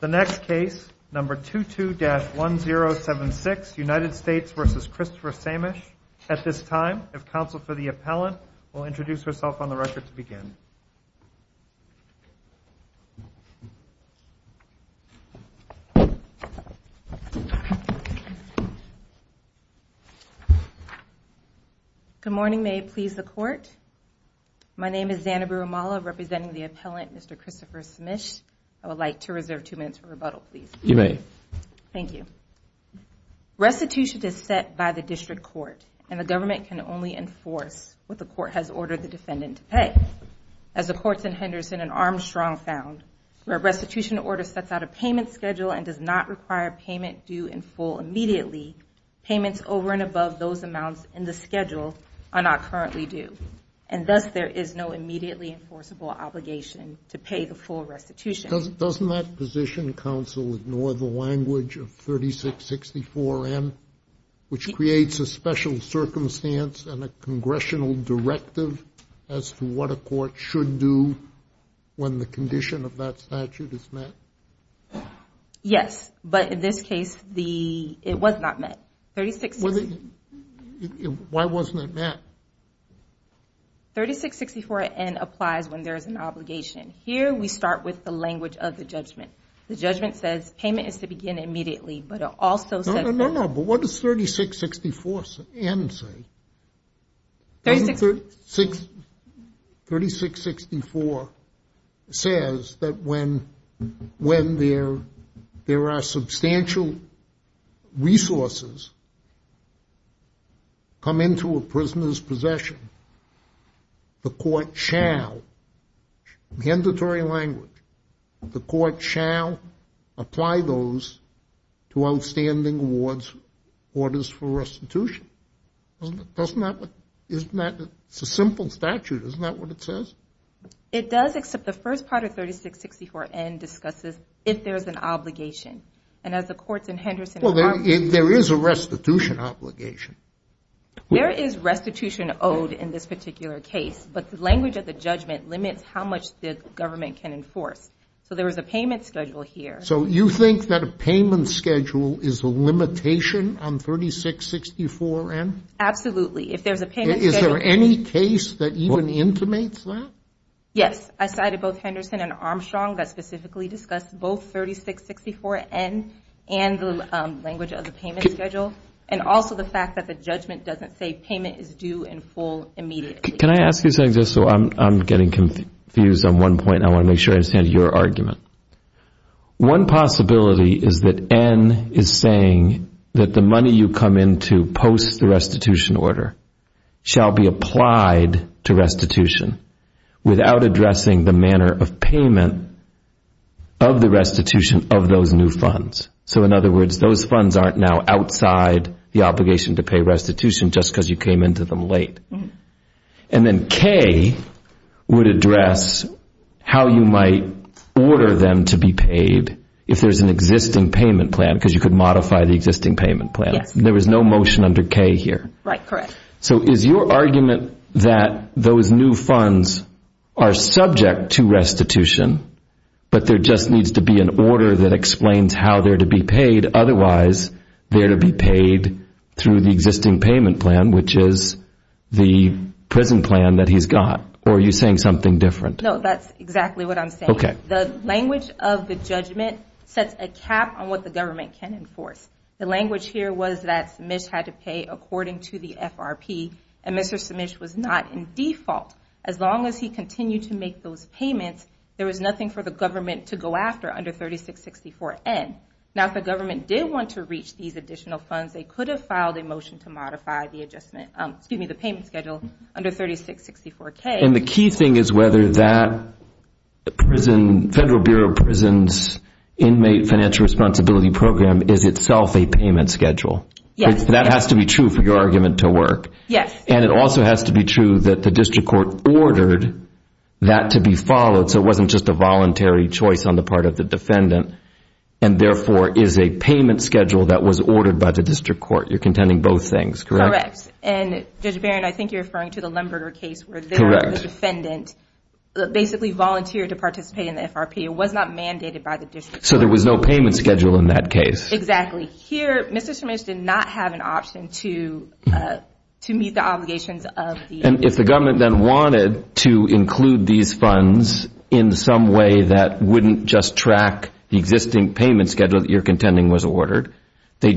The next case, number 22-1076, United States v. Christopher Saemisch. At this time, if counsel for the appellant will introduce herself on the record to begin. Good morning. May it please the Court? My name is Zanna Burumala, representing the appellant, Mr. Christopher Saemisch. I would like to reserve two minutes for rebuttal, please. You may. Thank you. Restitution is set by the district court, and the government can only enforce what the court has ordered the defendant to pay. As the courts in Henderson and Armstrong found, where a restitution order sets out a payment schedule and does not require payment due in full immediately, payments over and above those amounts in the schedule are not currently due, and thus there is no immediately enforceable obligation to pay the full restitution. Doesn't that position, counsel, ignore the language of 3664M, which creates a special circumstance and a congressional directive as to what a court should do when the condition of that statute is met? Yes, but in this case, it was not met. Why wasn't it met? 3664N applies when there is an obligation. Here we start with the language of the judgment. The judgment says payment is to begin immediately, but it also says that No, no, no, but what does 3664N say? 3664 says that when there are substantial resources come into a prisoner's possession, the court shall, mandatory language, the court shall apply those to outstanding orders for restitution. Doesn't that, isn't that, it's a simple statute. Isn't that what it says? It does, except the first part of 3664N discusses if there is an obligation, and as the courts in Henderson are Well, there is a restitution obligation. Where is restitution owed in this particular case? But the language of the judgment limits how much the government can enforce. So there is a payment schedule here. So you think that a payment schedule is a limitation on 3664N? Absolutely. If there is a payment schedule Is there any case that even intimates that? Yes. I cited both Henderson and Armstrong that specifically discussed both 3664N and the language of the payment schedule, and also the fact that the judgment doesn't say payment is due in full immediately. Can I ask you something just so I'm getting confused on one point? And I want to make sure I understand your argument. One possibility is that N is saying that the money you come into post the restitution order shall be applied to restitution without addressing the manner of payment of the restitution of those new funds. So in other words, those funds aren't now outside the obligation to pay restitution just because you came into them late. And then K would address how you might order them to be paid if there's an existing payment plan because you could modify the existing payment plan. There was no motion under K here. Right, correct. So is your argument that those new funds are subject to restitution, but there just needs to be an order that explains how they're to be paid, otherwise they're to be paid through the existing payment plan, which is the prison plan that he's got? Or are you saying something different? No, that's exactly what I'm saying. Okay. The language of the judgment sets a cap on what the government can enforce. The language here was that Smish had to pay according to the FRP, and Mr. Smish was not in default. As long as he continued to make those payments, there was nothing for the government to go after under 3664N. Now, if the government did want to reach these additional funds, they could have filed a motion to modify the adjustment, excuse me, the payment schedule under 3664K. And the key thing is whether that federal bureau of prison's inmate financial responsibility program is itself a payment schedule. Yes. That has to be true for your argument to work. Yes. And it also has to be true that the district court ordered that to be followed so it wasn't just a voluntary choice on the part of the defendant and, therefore, is a payment schedule that was ordered by the district court. You're contending both things, correct? Correct. And, Judge Barron, I think you're referring to the Lemberger case where the defendant basically volunteered to participate in the FRP. It was not mandated by the district court. So there was no payment schedule in that case. Exactly. Here, Mr. Smish did not have an option to meet the obligations of the… And if the government then wanted to include these funds in some way that wouldn't just track the existing payment schedule that you're contending was ordered, the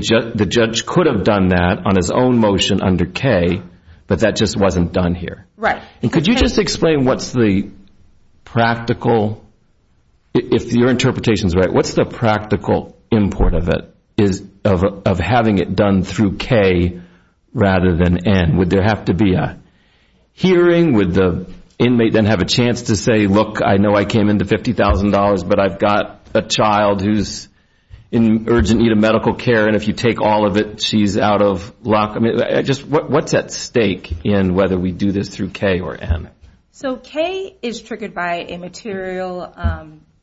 judge could have done that on his own motion under K, but that just wasn't done here. Right. And could you just explain what's the practical, if your interpretation is right, what's the practical import of it, of having it done through K rather than N? Would there have to be a hearing? Would the inmate then have a chance to say, look, I know I came into $50,000, but I've got a child who's in urgent need of medical care, and if you take all of it, she's out of luck? I mean, just what's at stake in whether we do this through K or N? So K is triggered by a material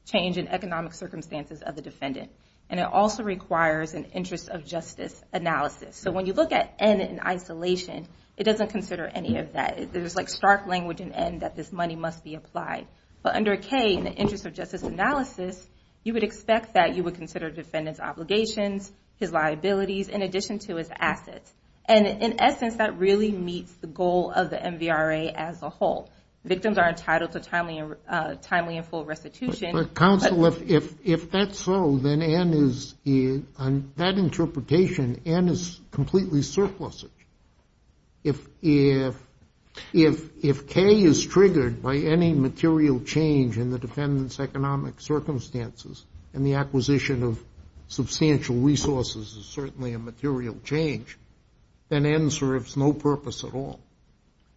change in economic circumstances of the defendant, and it also requires an interest of justice analysis. So when you look at N in isolation, it doesn't consider any of that. There's, like, stark language in N that this money must be applied. But under K, in the interest of justice analysis, you would expect that you would consider the defendant's obligations, his liabilities, in addition to his assets. And in essence, that really meets the goal of the MVRA as a whole. Victims are entitled to timely and full restitution. But counsel, if that's so, then N is, on that interpretation, N is completely surplusage. If K is triggered by any material change in the defendant's economic circumstances and the acquisition of substantial resources is certainly a material change, then N serves no purpose at all.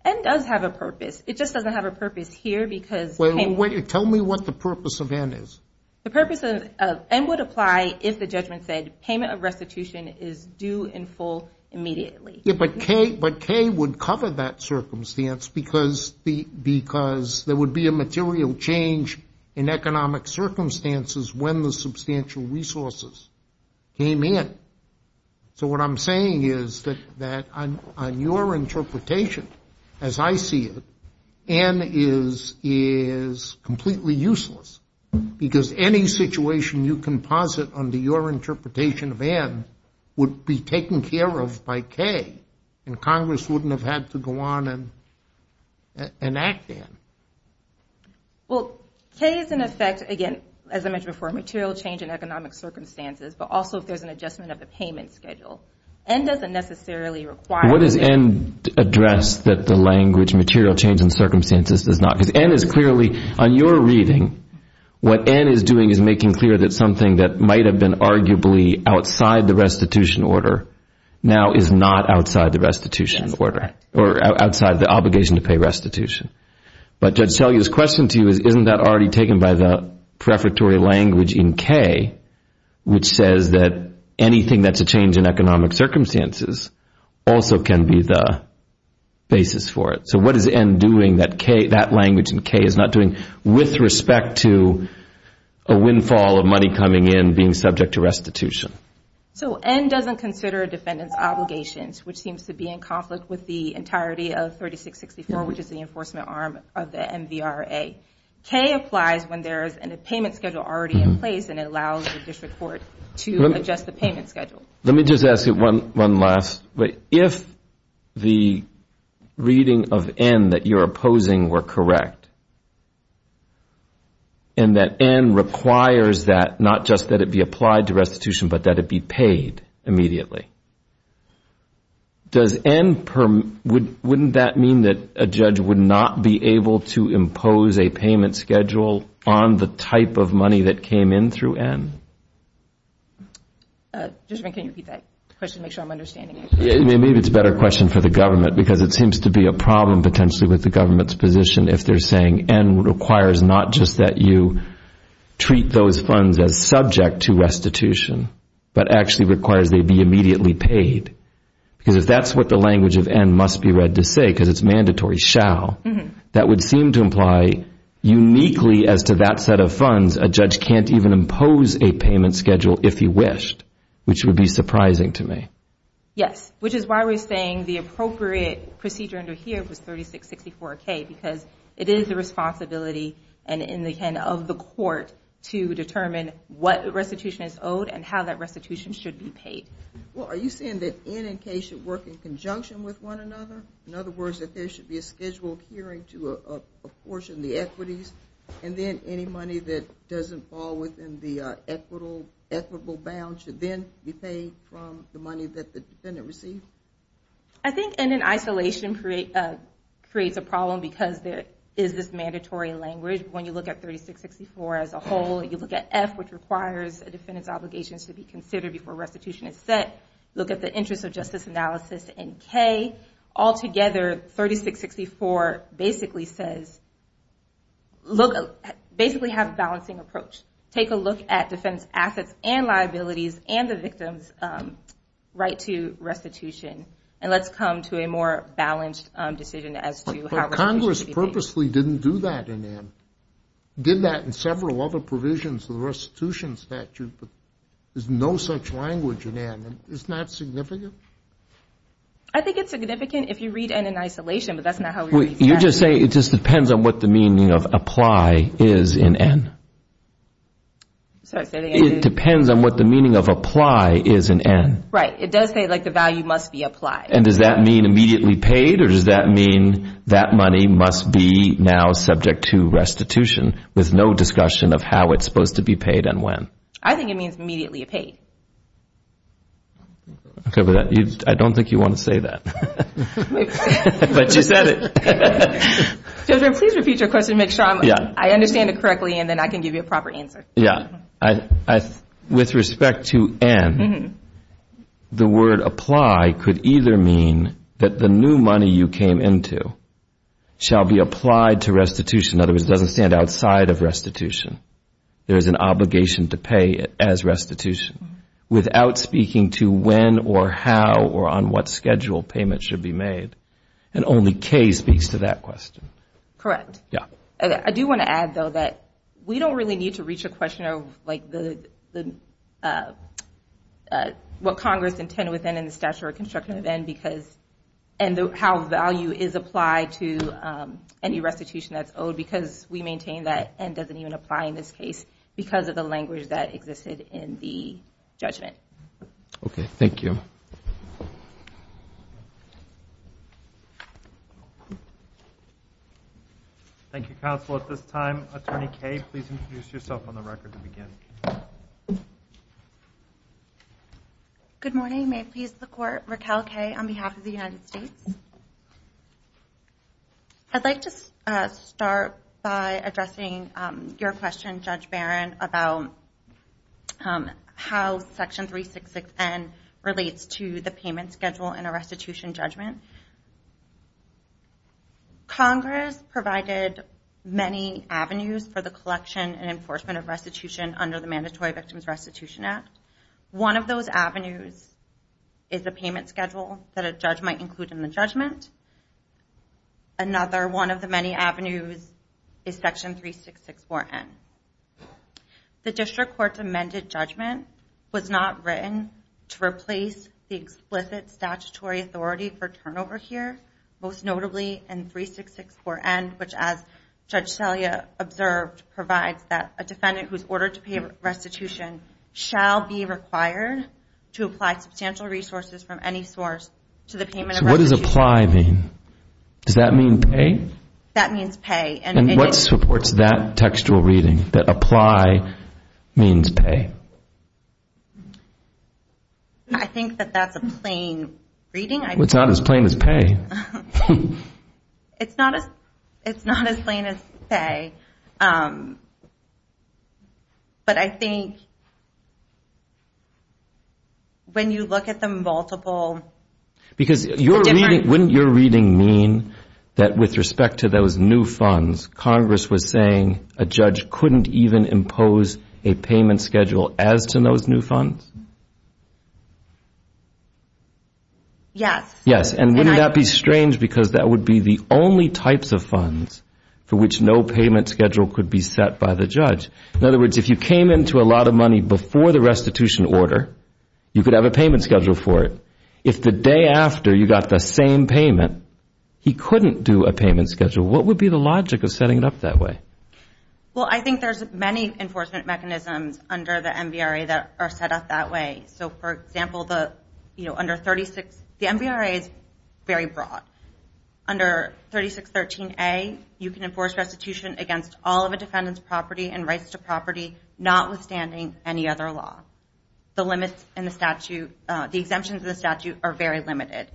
N does have a purpose. It just doesn't have a purpose here because of K. Tell me what the purpose of N is. The purpose of N would apply if the judgment said payment of restitution is due in full immediately. But K would cover that circumstance because there would be a material change in economic circumstances when the substantial resources came in. So what I'm saying is that on your interpretation, as I see it, N is completely useless because any situation you composite under your interpretation of N would be taken care of by K, and Congress wouldn't have had to go on and act N. Well, K is in effect, again, as I mentioned before, material change in economic circumstances, but also if there's an adjustment of the payment schedule. N doesn't necessarily require that. What does N address that the language material change in circumstances does not? Because N is clearly, on your reading, what N is doing is making clear that something that might have been arguably outside the restitution order now is not outside the restitution order or outside the obligation to pay restitution. But Judge Selye's question to you is isn't that already taken by the prefatory language in K, which says that anything that's a change in economic circumstances also can be the basis for it. So what is N doing that language in K is not doing with respect to a windfall of money coming in being subject to restitution? So N doesn't consider a defendant's obligations, which seems to be in conflict with the entirety of 3664, which is the enforcement arm of the MVRA. K applies when there is a payment schedule already in place, and it allows the district court to adjust the payment schedule. Let me just ask you one last. If the reading of N that you're opposing were correct, and that N requires that not just that it be applied to restitution, but that it be paid immediately, wouldn't that mean that a judge would not be able to impose a payment schedule on the type of money that came in through N? Judgment, can you repeat that question to make sure I'm understanding it? Maybe it's a better question for the government, because it seems to be a problem potentially with the government's position if they're saying N requires not just that you treat those funds as subject to restitution, but actually requires they be immediately paid. Because if that's what the language of N must be read to say, because it's mandatory, shall, that would seem to imply uniquely as to that set of funds, a judge can't even impose a payment schedule if he wished, which would be surprising to me. Yes, which is why we're saying the appropriate procedure under here was 3664K, because it is the responsibility of the court to determine what restitution is owed and how that restitution should be paid. Well, are you saying that N and K should work in conjunction with one another? In other words, that there should be a scheduled hearing to apportion the equities, and then any money that doesn't fall within the equitable bounds should then be paid from the money that the defendant received? I think N in isolation creates a problem because there is this mandatory language. When you look at 3664 as a whole, you look at F, which requires a defendant's obligations to be considered before restitution is set. Look at the interest of justice analysis in K. All together, 3664 basically has a balancing approach. Take a look at defense assets and liabilities and the victim's right to restitution, and let's come to a more balanced decision as to how restitution should be paid. But Congress purposely didn't do that in N. It did that in several other provisions of the restitution statute, but there's no such language in N. Isn't that significant? I think it's significant if you read N in isolation, but that's not how we read statute. You're just saying it just depends on what the meaning of apply is in N. Sorry, say that again. It depends on what the meaning of apply is in N. Right, it does say the value must be applied. And does that mean immediately paid, or does that mean that money must be now subject to restitution with no discussion of how it's supposed to be paid and when? I think it means immediately paid. I don't think you want to say that, but you said it. Judge Graham, please repeat your question to make sure I understand it correctly, and then I can give you a proper answer. Yeah. With respect to N, the word apply could either mean that the new money you came into shall be applied to restitution. In other words, it doesn't stand outside of restitution. There is an obligation to pay it as restitution, without speaking to when or how or on what schedule payment should be made. And only K speaks to that question. Correct. Yeah. I do want to add, though, that we don't really need to reach a question of, like, what Congress intended with N and the statutory construction of N, and how value is applied to any restitution that's owed, because we maintain that N doesn't even apply in this case because of the language that existed in the judgment. Okay. Thank you. Thank you, counsel. At this time, Attorney Kay, please introduce yourself on the record to begin. Good morning. May it please the Court. Raquel Kay on behalf of the United States. I'd like to start by addressing your question, Judge Barron, about how Section 366N relates to the payment schedule in a restitution judgment. Congress provided many avenues for the collection and enforcement of restitution under the Mandatory Victims Restitution Act. One of those avenues is a payment schedule that a judge might include in the judgment. Another one of the many avenues is Section 3664N. The District Court's amended judgment was not written to replace the explicit statutory authority for turnover here, most notably in 3664N, which, as Judge Salia observed, provides that a defendant who is ordered to pay restitution shall be required to apply substantial resources from any source to the payment of restitution. So what does apply mean? Does that mean pay? That means pay. And what supports that textual reading, that apply means pay? I think that that's a plain reading. It's not as plain as pay. It's not as plain as pay, but I think when you look at the multiple different... Because wouldn't your reading mean that with respect to those new funds, Congress was saying a judge couldn't even impose a payment schedule as to those new funds? Yes. Yes, and wouldn't that be strange because that would be the only types of funds for which no payment schedule could be set by the judge? In other words, if you came into a lot of money before the restitution order, you could have a payment schedule for it. If the day after you got the same payment, he couldn't do a payment schedule, what would be the logic of setting it up that way? Well, I think there's many enforcement mechanisms under the MVRA that are set up that way. So, for example, the MVRA is very broad. Under 3613A, you can enforce restitution against all of a defendant's property and rights to property notwithstanding any other law. The exemptions in the statute are very limited.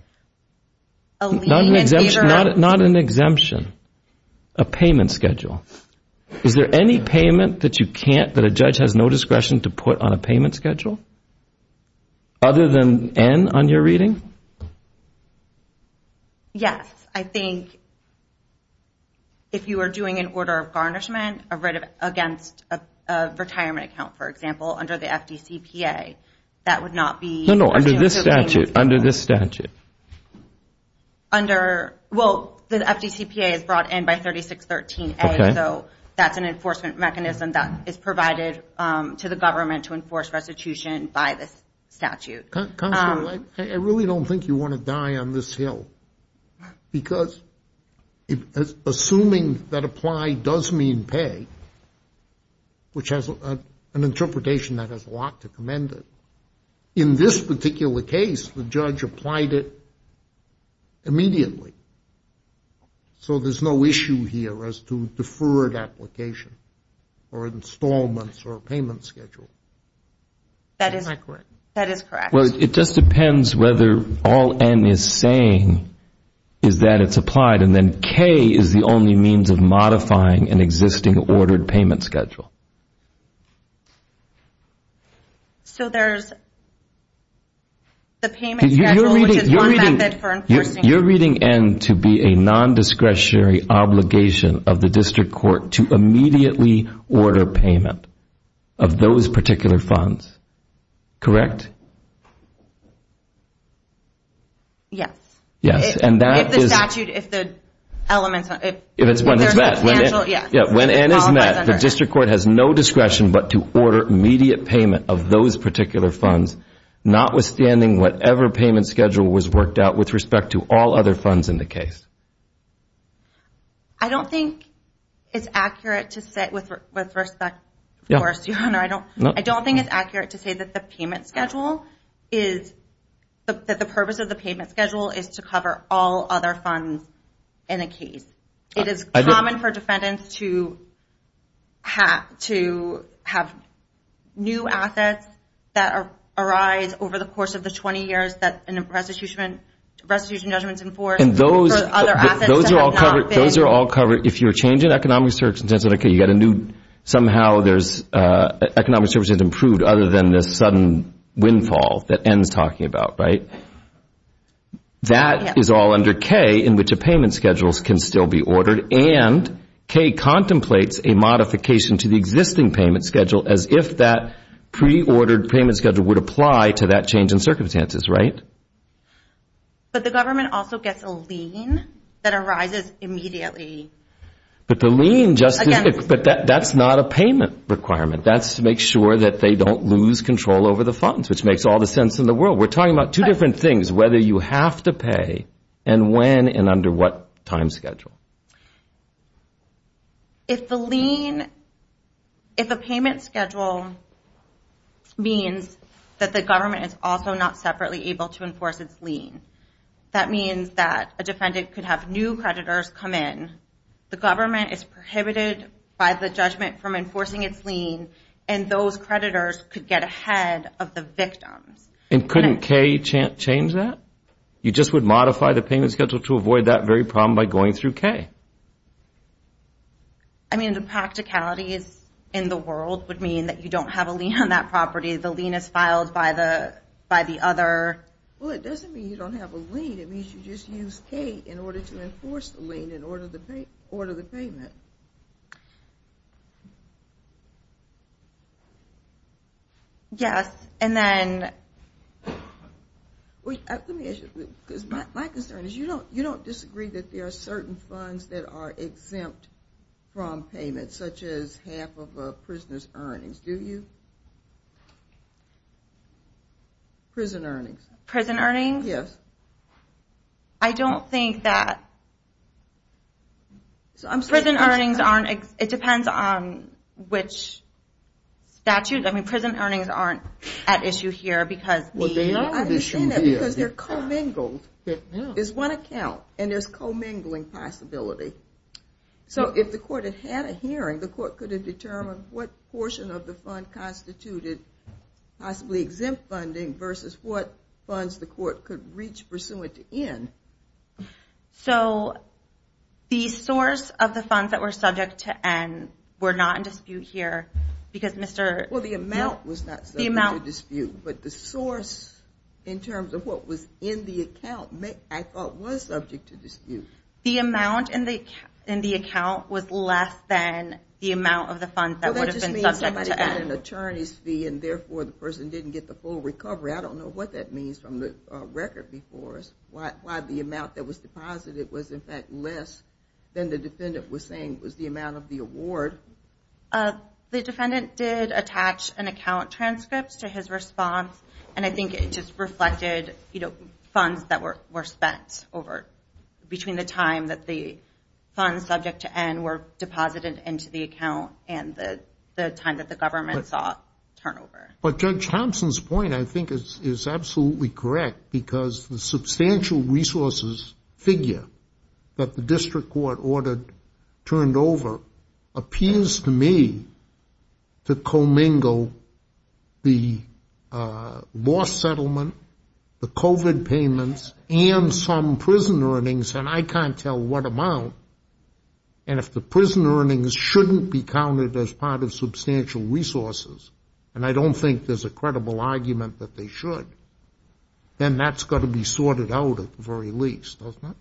Not an exemption, a payment schedule. Is there any payment that a judge has no discretion to put on a payment schedule other than N on your reading? Yes. I think if you were doing an order of garnishment against a retirement account, for example, under the FDCPA, that would not be... No, no, under this statute. Well, the FDCPA is brought in by 3613A, so that's an enforcement mechanism that is provided to the government to enforce restitution by this statute. Counselor, I really don't think you want to die on this hill, because assuming that apply does mean pay, which has an interpretation that has a lot to commend it, in this particular case, the judge applied it immediately. So there's no issue here as to deferred application or installments or payment schedule. That is correct. Well, it just depends whether all N is saying is that it's applied, and then K is the only means of modifying an existing ordered payment schedule. So there's the payment schedule, which is one method for enforcing... You're reading N to be a non-discretionary obligation of the district court to immediately order payment of those particular funds, correct? Yes. Yes, and that is... If the statute, if the elements... If it's when it's met... If there's substantial... Yes. When N is met, the district court has no discretion, but to order immediate payment of those particular funds, notwithstanding whatever payment schedule was worked out with respect to all other funds in the case. I don't think it's accurate to say, with respect, of course... I don't think it's accurate to say that the purpose of the payment schedule is to cover all other funds in a case. It is common for defendants to have new assets that arise over the course of the 20 years that a restitution judgment is enforced. And those are all covered... For other assets that have not been... Those are all covered. If you're changing economic circumstances in a case, you've got a new... Somehow there's economic circumstances improved other than this sudden windfall that N is talking about, right? That is all under K in which a payment schedule can still be ordered and K contemplates a modification to the existing payment schedule as if that pre-ordered payment schedule would apply to that change in circumstances, right? But the government also gets a lien that arises immediately. But the lien just... Again... But that's not a payment requirement. That's to make sure that they don't lose control over the funds, which makes all the sense in the world. We're talking about two different things, whether you have to pay and when and under what time schedule. If the lien... If a payment schedule means that the government is also not separately able to enforce its lien, that means that a defendant could have new creditors come in. The government is prohibited by the judgment from enforcing its lien, and those creditors could get ahead of the victims. And couldn't K change that? You just would modify the payment schedule to avoid that very problem by going through K. I mean, the practicalities in the world would mean that you don't have a lien on that property. The lien is filed by the other... Well, it doesn't mean you don't have a lien. It means you just use K in order to enforce the lien and order the payment. Yes, and then... My concern is you don't disagree that there are certain funds that are exempt from payments, such as half of a prisoner's earnings, do you? Prison earnings. Prison earnings? Yes. I don't think that... Prison earnings aren't... It depends on which statute. I mean, prison earnings aren't at issue here because the... Well, they are an issue here. I'm saying that because they're commingled. There's one account, and there's commingling possibility. So if the court had had a hearing, the court could have determined what portion of the fund constituted possibly exempt funding versus what funds the court could reach pursuant to N. So the source of the funds that were subject to N were not in dispute here because Mr.... Well, the amount was not subject to dispute, but the source in terms of what was in the account I thought was subject to dispute. The amount in the account was less than the amount of the funds that would have been subject to N. And therefore the person didn't get the full recovery. I don't know what that means from the record before us, why the amount that was deposited was in fact less than the defendant was saying was the amount of the award. The defendant did attach an account transcript to his response, and I think it just reflected funds that were spent over... between the time that the funds subject to N were deposited into the account and the time that the government saw turnover. But Judge Thompson's point I think is absolutely correct because the substantial resources figure that the district court ordered turned over appears to me to commingle the loss settlement, the COVID payments, and some prison earnings, and I can't tell what amount. And if the prison earnings shouldn't be counted as part of substantial resources, and I don't think there's a credible argument that they should, then that's got to be sorted out at the very least, doesn't it?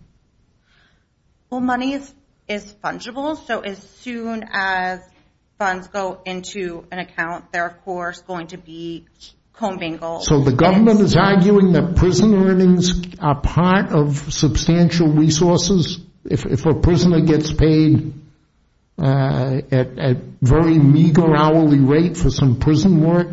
Well, money is fungible, so as soon as funds go into an account, they're of course going to be commingled. So the government is arguing that prison earnings are part of substantial resources? If a prisoner gets paid at a very meager hourly rate for some prison work,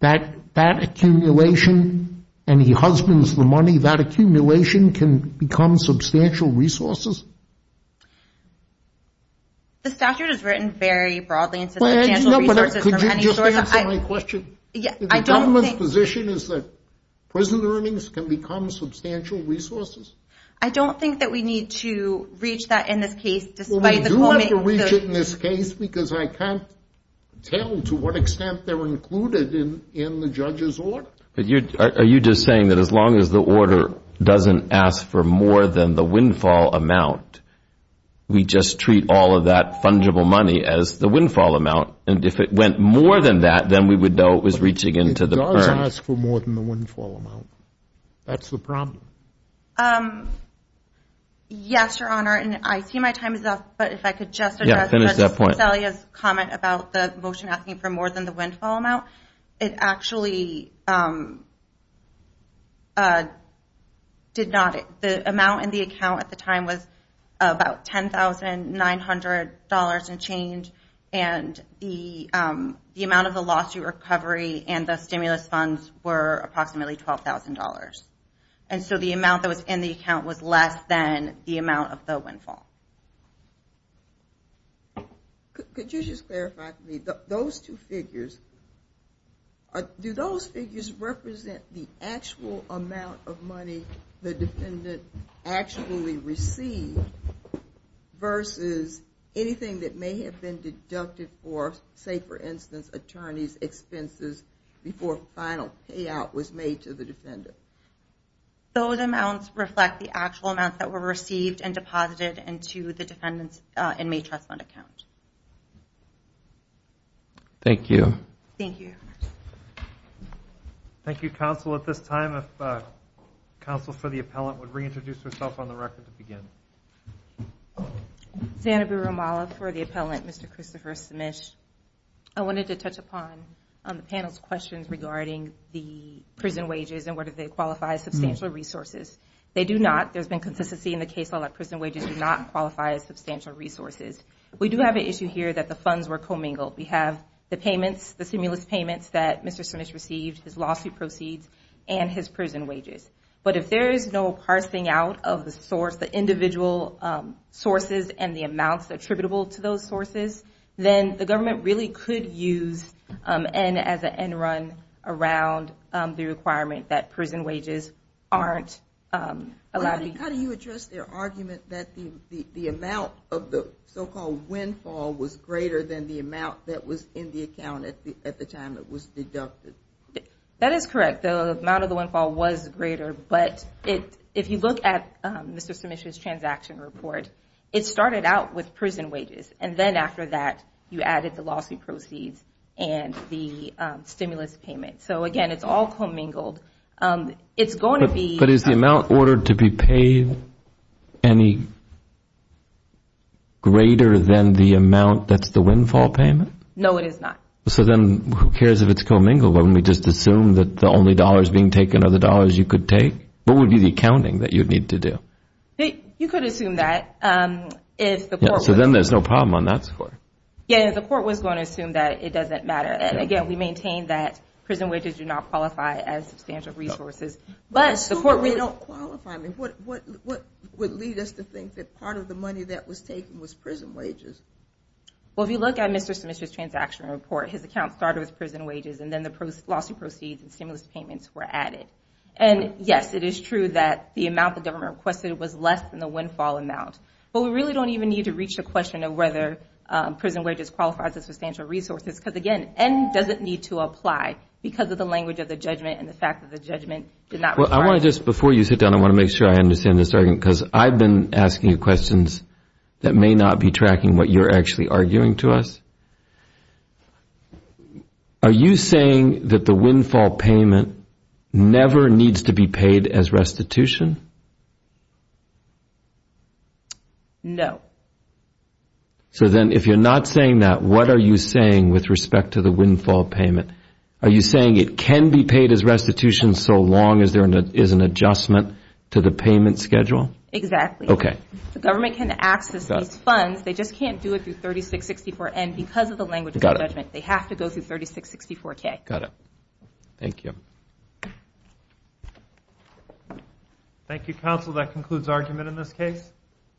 that accumulation, and he husbands the money, that accumulation can become substantial resources? The statute is written very broadly in substantial resources. Could you just answer my question? The government's position is that prison earnings can become substantial resources? I don't think that we need to reach that in this case. Well, we do have to reach it in this case, because I can't tell to what extent they're included in the judge's order. Are you just saying that as long as the order doesn't ask for more than the windfall amount, we just treat all of that fungible money as the windfall amount, and if it went more than that, then we would know it was reaching into the purse? It does ask for more than the windfall amount. That's the problem. Yes, Your Honor, and I see my time is up, but if I could just address Mr. Cassellia's comment about the motion asking for more than the windfall amount, it actually did not. The amount in the account at the time was about $10,900 and change, and the amount of the lawsuit recovery and the stimulus funds were approximately $12,000. And so the amount that was in the account was less than the amount of the windfall. Could you just clarify to me, those two figures, do those figures represent the actual amount of money the defendant actually received versus anything that may have been deducted for, say, for instance, attorney's expenses before final payout was made to the defendant? Those amounts reflect the actual amounts that were received and deposited into the defendant's inmate trust fund account. Thank you. Thank you, Your Honor. Xanabu Ramallah for the appellant, Mr. Christopher Smish. I wanted to touch upon the panel's questions regarding the prison wages and whether they qualify as substantial resources. They do not. There's been consistency in the case that prison wages do not qualify as substantial resources. We do have an issue here that the funds were commingled. We have the payments, the stimulus payments that Mr. Smish received, his lawsuit proceeds, and his prison wages. But if there is no parsing out of the source, the individual sources and the amounts attributable to those sources, then the government really could use N as an end run around the requirement that prison wages aren't allowed. How do you address their argument that the amount of the so-called windfall was greater than the amount that was in the account at the time it was deducted? That is correct. The amount of the windfall was greater, but if you look at Mr. Smish's transaction report, it started out with prison wages, and then after that you added the lawsuit proceeds and the stimulus payment. So, again, it's all commingled. But is the amount ordered to be paid any greater than the amount that's the windfall payment? No, it is not. So then who cares if it's commingled? We just assume that the only dollars being taken are the dollars you could take? What would be the accounting that you'd need to do? You could assume that if the court was going to assume. So then there's no problem on that score? Yeah, if the court was going to assume that, it doesn't matter. And, again, we maintain that prison wages do not qualify as substantial resources. But assuming they don't qualify, what would lead us to think that part of the money that was taken was prison wages? Well, if you look at Mr. Smish's transaction report, his account started with prison wages, and then the lawsuit proceeds and stimulus payments were added. And, yes, it is true that the amount the government requested was less than the windfall amount. But we really don't even need to reach the question of whether prison wages qualify as substantial resources, because, again, N doesn't need to apply because of the language of the judgment and the fact that the judgment did not require it. Well, I want to just, before you sit down, I want to make sure I understand this, because I've been asking questions that may not be tracking what you're actually arguing to us. Are you saying that the windfall payment never needs to be paid as restitution? No. So then if you're not saying that, what are you saying with respect to the windfall payment? Are you saying it can be paid as restitution so long as there is an adjustment to the payment schedule? Exactly. Okay. The government can access these funds. They just can't do it through 3664N because of the language of the judgment. They have to go through 3664K. Got it. Thank you. Thank you, counsel. That concludes argument in this case.